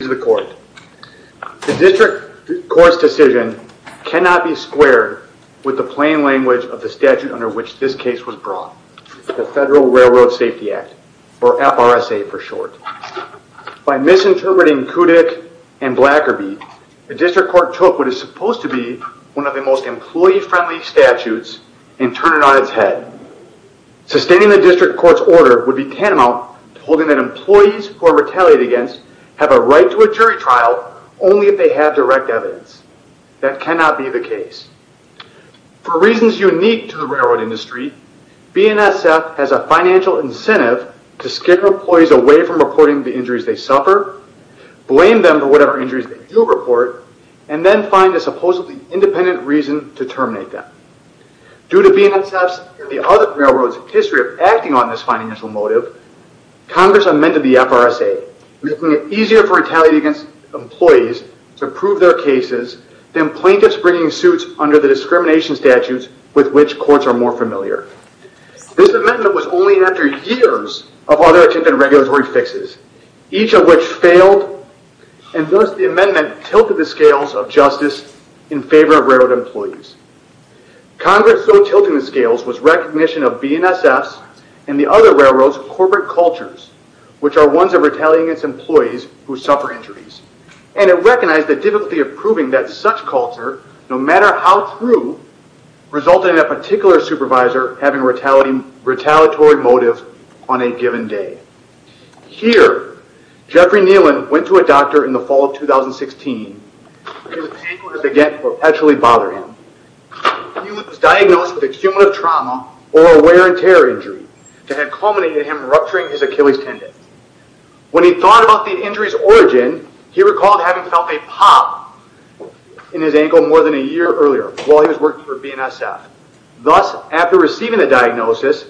The District Court's decision cannot be squared with the plain language of the statute under which this case was brought, the Federal Railroad Safety Act, or FRSA for short. By misinterpreting Kudik and Blackerby, the District Court took what is supposed to be one of the most employee-friendly statutes and turned it on its head. Sustaining the District Court's order would be tantamount to holding that employees who go to a jury trial only if they have direct evidence. That cannot be the case. For reasons unique to the railroad industry, BNSF has a financial incentive to scare employees away from reporting the injuries they suffer, blame them for whatever injuries they do report, and then find a supposedly independent reason to terminate them. Due to BNSF's and the other railroads' history of acting on this financial motive, Congress amended the FRSA, making it easier for retaliating against employees to prove their cases than plaintiffs bringing suits under the discrimination statutes with which courts are more familiar. This amendment was only after years of other attempts at regulatory fixes, each of which failed and thus the amendment tilted the scales of justice in favor of railroad employees. Congress so tilting the scales was recognition of BNSF's and the other railroads' corporate cultures, which are ones of retaliating against employees who suffer injuries, and it recognized the difficulty of proving that such culture, no matter how true, resulted in a particular supervisor having a retaliatory motive on a given day. Here, Jeffrey Nealon went to a doctor in the fall of 2016, whose pain would again perpetually bother him. Nealon was diagnosed with exhumative trauma or a wear and tear injury that had culminated in him rupturing his Achilles tendon. When he thought about the injury's origin, he recalled having felt a pop in his ankle more than a year earlier while he was working for BNSF. Thus, after receiving the diagnosis,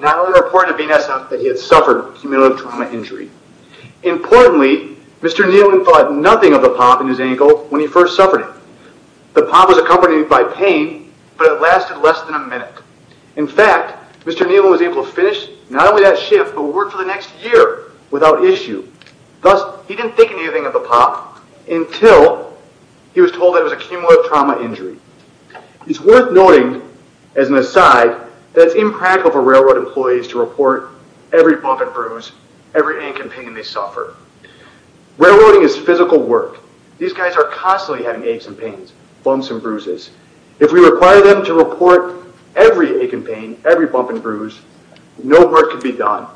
not only reported to BNSF that he had suffered an exhumative trauma injury, importantly, Mr. Nealon thought nothing of the pop in his ankle when he first suffered it. The pop was accompanied by pain, but it lasted less than a minute. In fact, Mr. Nealon was able to finish not only that shift, but work for the next year without issue. Thus, he didn't think anything of the pop until he was told that it was an exhumative trauma injury. It's worth noting, as an aside, that it's impractical for railroad employees to report every bump and bruise, every ache and pain they suffer. Railroading is physical work. These guys are constantly having aches and pains, bumps and bruises. If we require them to report every ache and pain, every bump and bruise, no work can be done.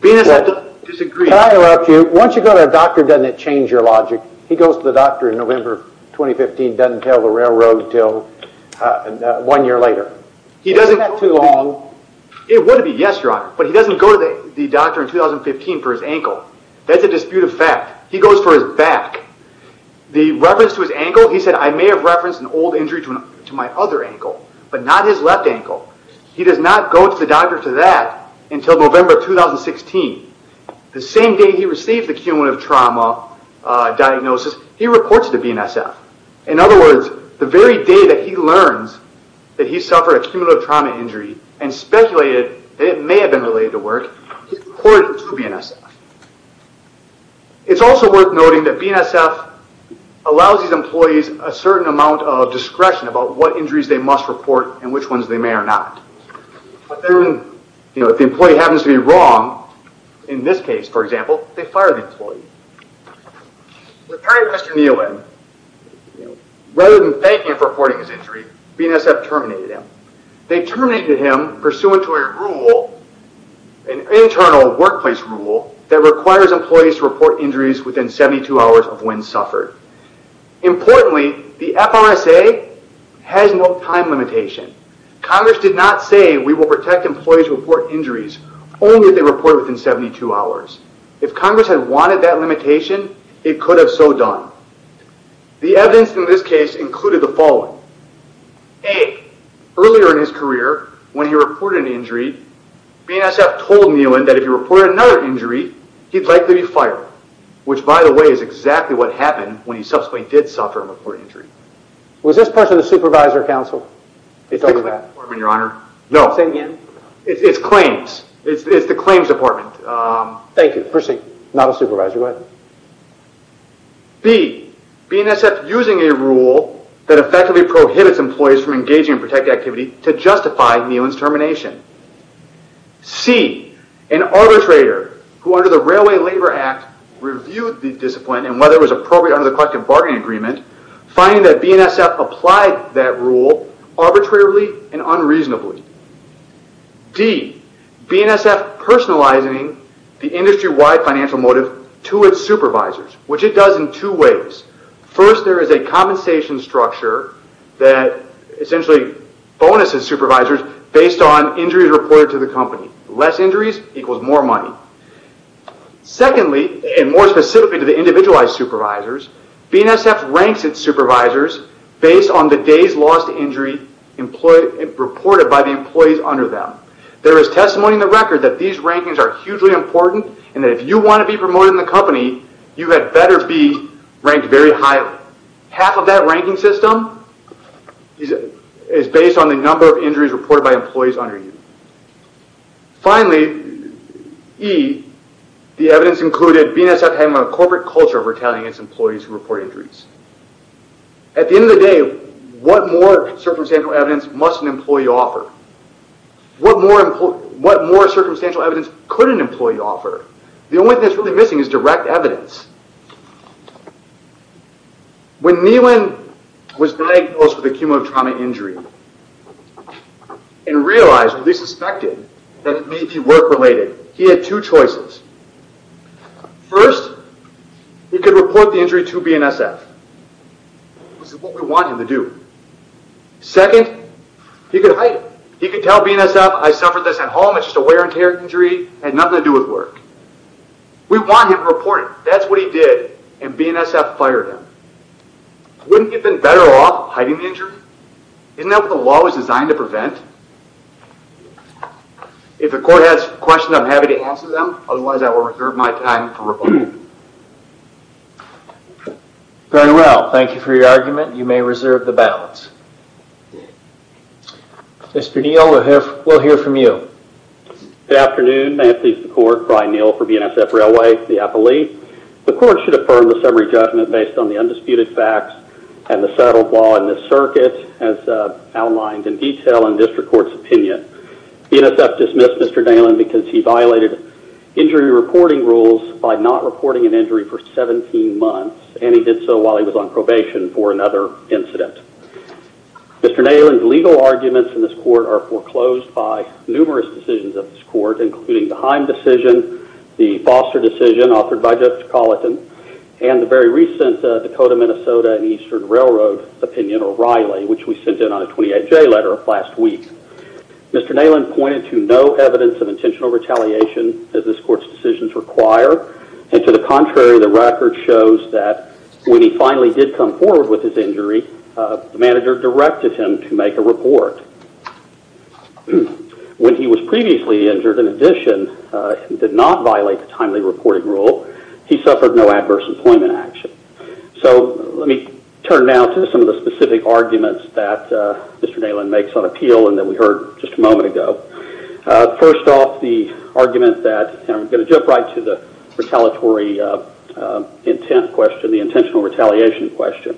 BNSF doesn't disagree. Can I interrupt you? Once you go to a doctor, doesn't it change your logic? He goes to the doctor in November 2015, doesn't tell the railroad until one year later. He doesn't... Isn't that too long? It would be, yes, your honor. But he doesn't go to the doctor in 2015 for his ankle. That's a dispute of fact. He goes for his back. The reference to his ankle, he said, I may have referenced an old injury to my other ankle, but not his left ankle. He does not go to the doctor to that until November 2016. The same day he received the cumulative trauma diagnosis, he reports it to BNSF. In other words, the very day that he learns that he suffered a cumulative trauma injury and speculated that it may have been related to work, he reports it to BNSF. It's also worth noting that BNSF allows these employees a certain amount of discretion about what injuries they must report and which ones they may or not. But then, you know, if the employee happens to be wrong, in this case, for example, they fire the employee. They fired Mr. Neelan. Rather than thank him for reporting his injury, BNSF terminated him. They terminated him pursuant to a rule, an internal workplace rule, that requires employees to report injuries within 72 hours of when suffered. Importantly, the FRSA has no time limitation. Congress did not say we will protect employees who report injuries only if they report within 72 hours. If Congress had wanted that limitation, it could have so done. The evidence in this case included the following. A. Earlier in his career, when he reported an injury, BNSF told Neelan that if he reported another injury, he'd likely be fired, which, by the way, is exactly what happened when he subsequently did suffer a report injury. Was this person a supervisor, counsel? It's over that. No. Say it again. It's claims. It's the claims department. Thank you. Proceed. Not a supervisor. Go ahead. B. BNSF using a rule that effectively prohibits employees from engaging in protected activity to justify Neelan's termination. C. An arbitrator who, under the Railway Labor Act, reviewed the discipline and whether it was appropriate under the Collective Bargaining Agreement, finding that BNSF applied that rule arbitrarily and unreasonably. D. BNSF personalizing the industry-wide financial motive to its supervisors, which it does in two ways. First, there is a compensation structure that essentially bonuses supervisors based on injuries reported to the company. Less injuries equals more money. Secondly, and more specifically to the individualized supervisors, BNSF ranks its supervisors based on the days lost to injury reported by the employees under them. There is testimony in the record that these rankings are hugely important and that if you want to be promoted in the company, you had better be ranked very highly. Half of that ranking system is based on the number of injuries reported by employees under you. Finally, E. The evidence included BNSF having a corporate culture of retaliating against employees who report injuries. At the end of the day, what more circumstantial evidence must an employee offer? What more circumstantial evidence could an employee offer? The only thing that is really missing is direct evidence. When Nielen was diagnosed with a cumulative trauma injury and realized, or at least suspected, that it may be work-related, he had two choices. First, he could report the injury to BNSF. This is what we want him to do. Second, he could hide it. He could tell BNSF, I suffered this at home. It's just a wear and tear injury. It had nothing to do with work. We want him to report it. That's what he did. And BNSF fired him. Wouldn't he have been better off hiding the injury? Isn't that what the law was designed to prevent? If the court has questions, I'm happy to answer them. Otherwise, I will reserve my time for rebuttal. Very well. Thank you for your argument. You may reserve the balance. Mr. Nielen, we'll hear from you. Good afternoon. May it please the court. Brian Nielen for BNSF Railway. The appellee. The court should affirm the summary judgment based on the undisputed facts and the settled law in the circuit as outlined in detail in district court's opinion. BNSF dismissed Mr. Nielen because he violated injury reporting rules by not reporting an injury for 17 months. And he did so while he was on probation for another incident. Mr. Nielen's legal arguments in this court are foreclosed by numerous decisions of this court, including the Heim decision, the Foster decision authored by Judge Colleton, and the very recent Dakota-Minnesota and Eastern Railroad opinion, O'Reilly, which we sent in on a 28-J letter last week. Mr. Nielen pointed to no evidence of intentional retaliation, as this court's decisions require, and to the contrary, the record shows that when he finally did come forward with his injury, the manager directed him to make a report. When he was previously injured, in addition, he did not violate the timely reporting rule. He suffered no adverse employment action. So let me turn now to some of the specific arguments that Mr. Nielen makes on appeal and that we heard just a moment ago. First off, the argument that, and I'm going to jump right to the retaliatory intent question, the intentional retaliation question.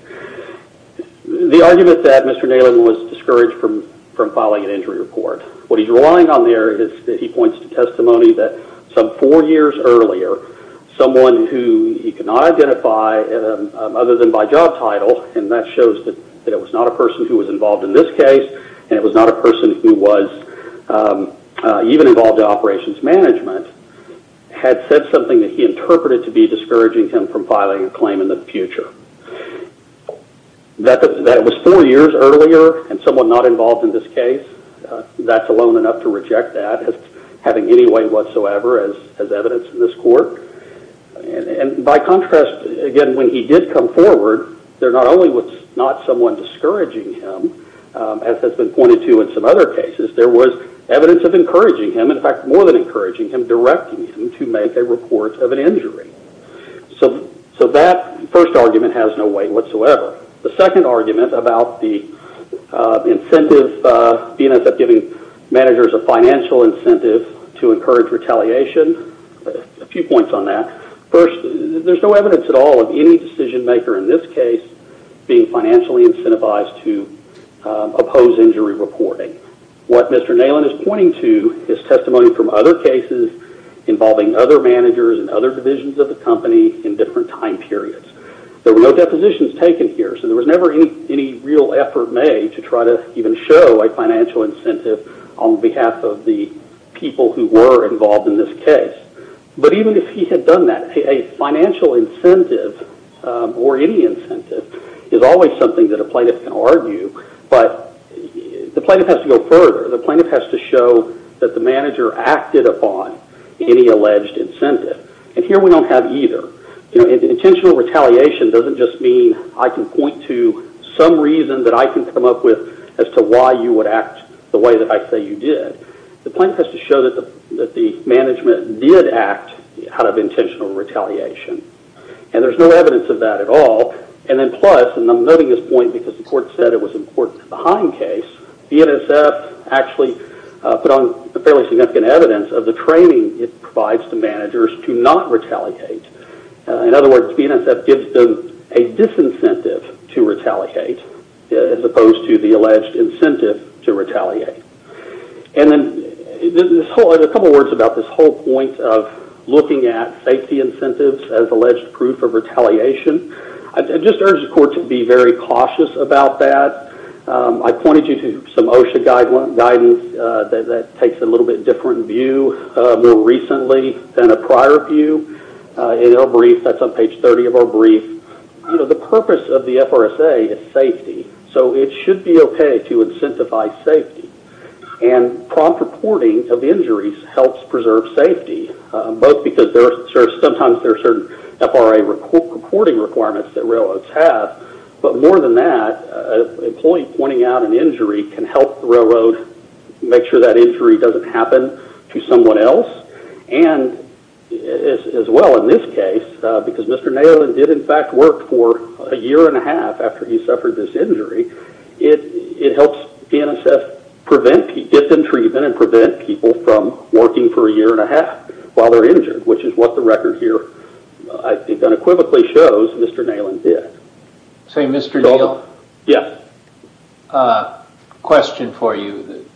The argument that Mr. Nielen was discouraged from filing an injury report. What he's relying on there is that he points to testimony that some four years earlier, someone who he could not identify other than by job title, and that shows that it was not a person who was involved in this case, and it was not a person who was even involved in operations management, had said something that he interpreted to be discouraging him from filing a claim in the future. That it was four years earlier and someone not involved in this case, that's alone enough to reject that as having any weight whatsoever as evidence in this court. And by contrast, again, when he did come forward, there not only was not someone discouraging him, as has been pointed to in some other cases, there was evidence of encouraging him, in fact, more than encouraging him, directing him to make a report of an injury. So that first argument has no weight whatsoever. The second argument about the incentive, BNSF giving managers a financial incentive to encourage retaliation, a few points on that. First, there's no evidence at all of any decision maker in this case being financially incentivized to oppose injury reporting. What Mr. Nielen is pointing to is testimony from other cases involving other managers and other divisions of the company in different time periods. There were no depositions taken here, so there was never any real effort made to try to even show a financial incentive on behalf of the people who were involved in this case. But even if he had done that, a financial incentive or any incentive is always something that a plaintiff can argue, but the plaintiff has to go further. The plaintiff has to show that the manager acted upon any alleged incentive, and here we don't have either. Intentional retaliation doesn't just mean I can point to some reason that I can come up with as to why you would act the way that I say you did. The plaintiff has to show that the management did act out of intentional retaliation, and there's no evidence of that at all, and then plus, and I'm noting this point because the court said it was important to the Heim case, BNSF actually put on fairly significant evidence of the training it provides to managers to not retaliate. In other words, BNSF gives them a disincentive to retaliate as opposed to the alleged incentive to retaliate. And then a couple words about this whole point of looking at safety incentives as alleged proof of retaliation. I just urge the court to be very cautious about that. I pointed you to some OSHA guidance that takes a little bit different view more recently than a prior view. In our brief, that's on page 30 of our brief, the purpose of the FRSA is safety, so it should be okay to incentivize safety, and prompt reporting of injuries helps preserve safety, both because sometimes there are certain FRA reporting requirements that railroads have, but more than that, an employee pointing out an injury can help the railroad make sure that injury doesn't happen to someone else, and as well in this case, because Mr. Nayland did in fact work for a year and a half after he suffered this injury, it helps BNSF prevent and prevent people from working for a year and a half while they're injured, which is what the record here unequivocally shows Mr. Nayland did. Say, Mr. Neal, question for you.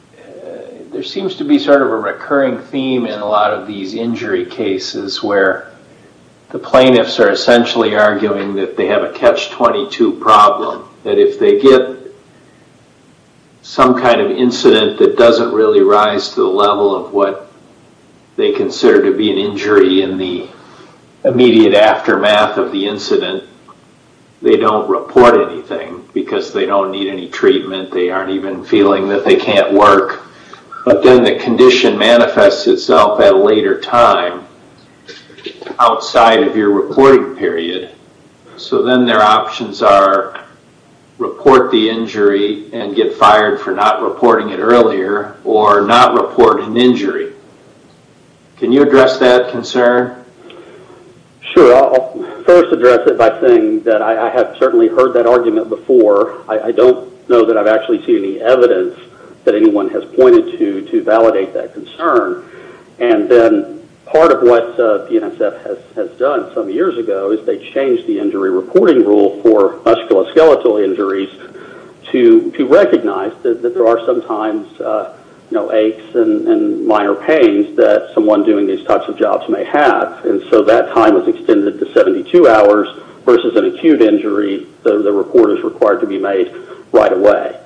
There seems to be sort of a recurring theme in a lot of these injury cases where the plaintiffs are essentially arguing that they have a catch-22 problem, that if they get some kind of incident that doesn't really rise to the level of what they consider to be an injury in the immediate aftermath of the incident, they don't report anything because they don't need any treatment, they aren't even feeling that they can't work, but then the condition manifests itself at a later time outside of your reporting period, so then their options are report the injury earlier or not report an injury. Can you address that concern? Sure. I'll first address it by saying that I have certainly heard that argument before. I don't know that I've actually seen any evidence that anyone has pointed to to validate that concern, and then part of what BNSF has done some years ago is they changed the injury and minor pains that someone doing these types of jobs may have, and so that time was extended to 72 hours versus an acute injury, the report is required to be made right away.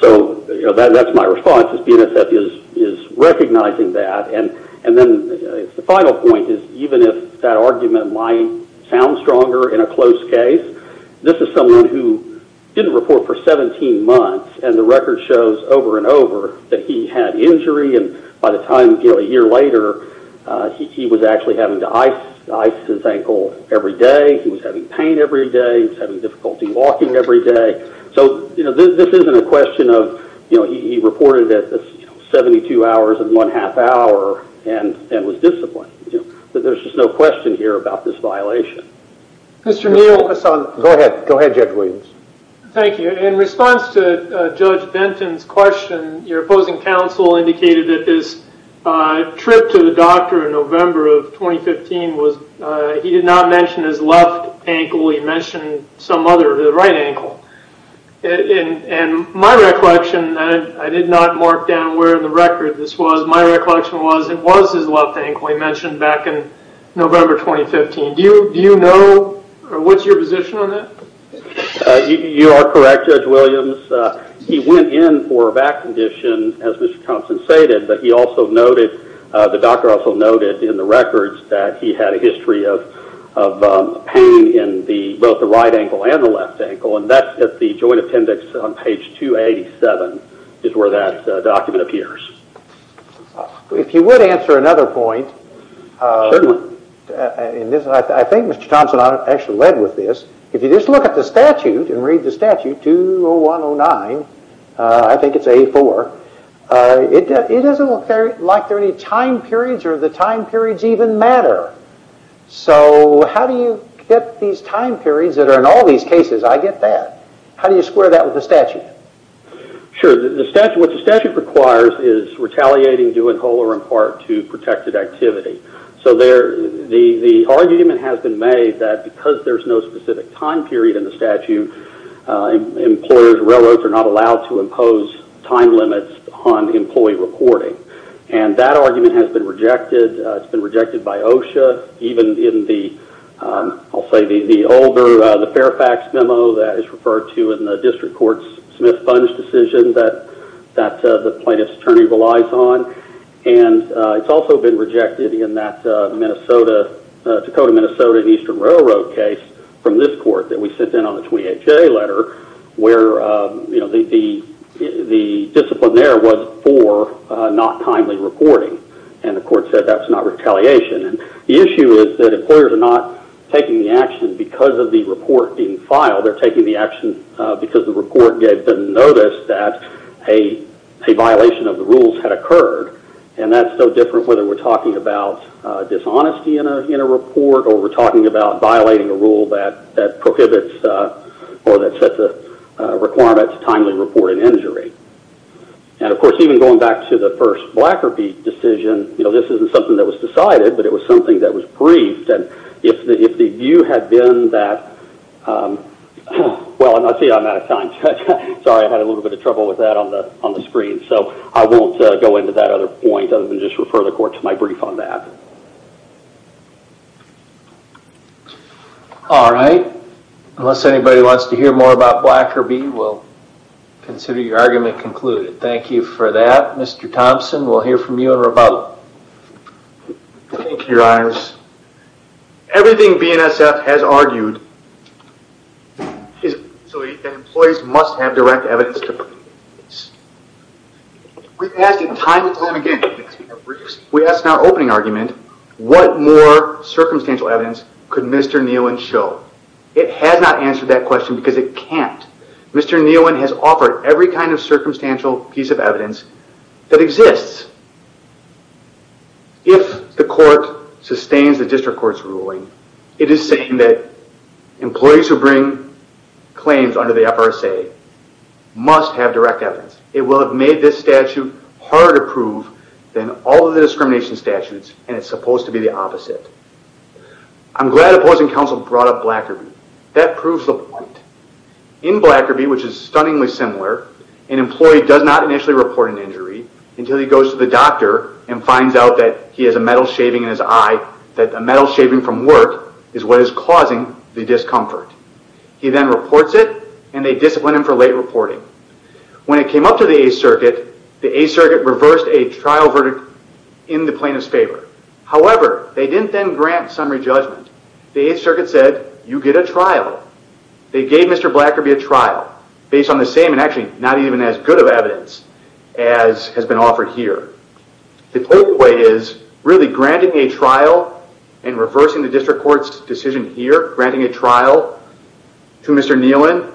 So that's my response, is BNSF is recognizing that, and then the final point is even if that argument might sound stronger in a close case, this is someone who didn't report for over that he had injury, and by the time a year later, he was actually having to ice his ankle every day, he was having pain every day, he was having difficulty walking every day, so this isn't a question of he reported at 72 hours and one half hour and was disciplined. There's just no question here about this violation. Go ahead, Judge Williams. Thank you. In response to Judge Benton's question, your opposing counsel indicated that his trip to the doctor in November of 2015, he did not mention his left ankle, he mentioned some other, the right ankle, and my recollection, and I did not mark down where in the record this was, my recollection was it was his left ankle he mentioned back in November 2015. Do you know, or what's your position on that? You are correct, Judge Williams. He went in for a back condition, as Mr. Thompson stated, but he also noted, the doctor also noted in the records that he had a history of pain in both the right ankle and the left ankle, and that's at the joint appendix on page 287 is where that document appears. If you would answer another point. Certainly. I think Mr. Thompson actually led with this. If you just look at the statute and read the statute, 201-09, I think it's 84, it doesn't look like there are any time periods or the time periods even matter. So how do you get these time periods that are in all these cases? I get that. How do you square that with the statute? Sure, what the statute requires is retaliating due in whole or in part to protected activity. So the argument has been made that because there's no specific time period in the statute, employers, railroads are not allowed to impose time limits on employee reporting. And that argument has been rejected. It's been rejected by OSHA, even in the, I'll say the older, the Fairfax memo that is referred to in the district court's Smith-Bunge decision that the plaintiff's attorney relies on. And it's also been rejected in that Minnesota, Dakota-Minnesota and Eastern Railroad case from this court that we sent in on the 28-J letter where, you know, the discipline there was for not timely reporting. And the court said that's not retaliation. The issue is that employers are not taking the action because of the report being filed. They're taking the action because the report gave them notice that a violation of the rules had occurred. And that's so different whether we're talking about dishonesty in a report or we're talking about violating a rule that prohibits or that sets a requirement to timely report an injury. And, of course, even going back to the first Blackerby decision, you know, this isn't something that was decided, but it was something that was briefed. And if the view had been that, well, see, I'm out of time. Sorry, I had a little bit of trouble with that on the screen. So I won't go into that other point other than just refer the court to my brief on that. All right. Unless anybody wants to hear more about Blackerby, we'll consider your argument concluded. Thank you for that. Mr. Thompson, we'll hear from you in rebuttal. Thank you, Your Honors. Everything BNSF has argued is that employees must have direct evidence to prove this. We've asked it time and time again. We asked in our opening argument, what more circumstantial evidence could Mr. Neowen show? It has not answered that question because it can't. Mr. Neowen has offered every kind of circumstantial piece of evidence that exists. If the court sustains the district court's ruling, it is saying that employees who bring claims under the FRSA must have direct evidence. It will have made this statute harder to prove than all of the discrimination statutes, and it's supposed to be the opposite. I'm glad opposing counsel brought up Blackerby. That proves the point. In Blackerby, which is stunningly similar, an employee does not initially report an injury until he goes to the doctor and finds out that he has a metal shaving in his eye, that the metal shaving from work is what is causing the discomfort. He then reports it, and they discipline him for late reporting. When it came up to the 8th Circuit, the 8th Circuit reversed a trial verdict in the plaintiff's favor. However, they didn't then grant summary judgment. The 8th Circuit said, you get a trial. They gave Mr. Blackerby a trial based on the same and actually not even as good of evidence as has been offered here. The takeaway is really granting a trial and reversing the district court's decision here, granting a trial to Mr. Nealon,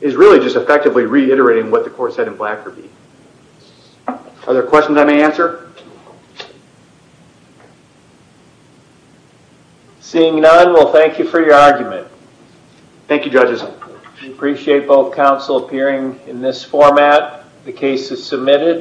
is really just effectively reiterating what the court said in Blackerby. Are there questions I may answer? Seeing none, we'll thank you for your argument. Thank you, judges. We appreciate both counsel appearing in this format. The case is submitted.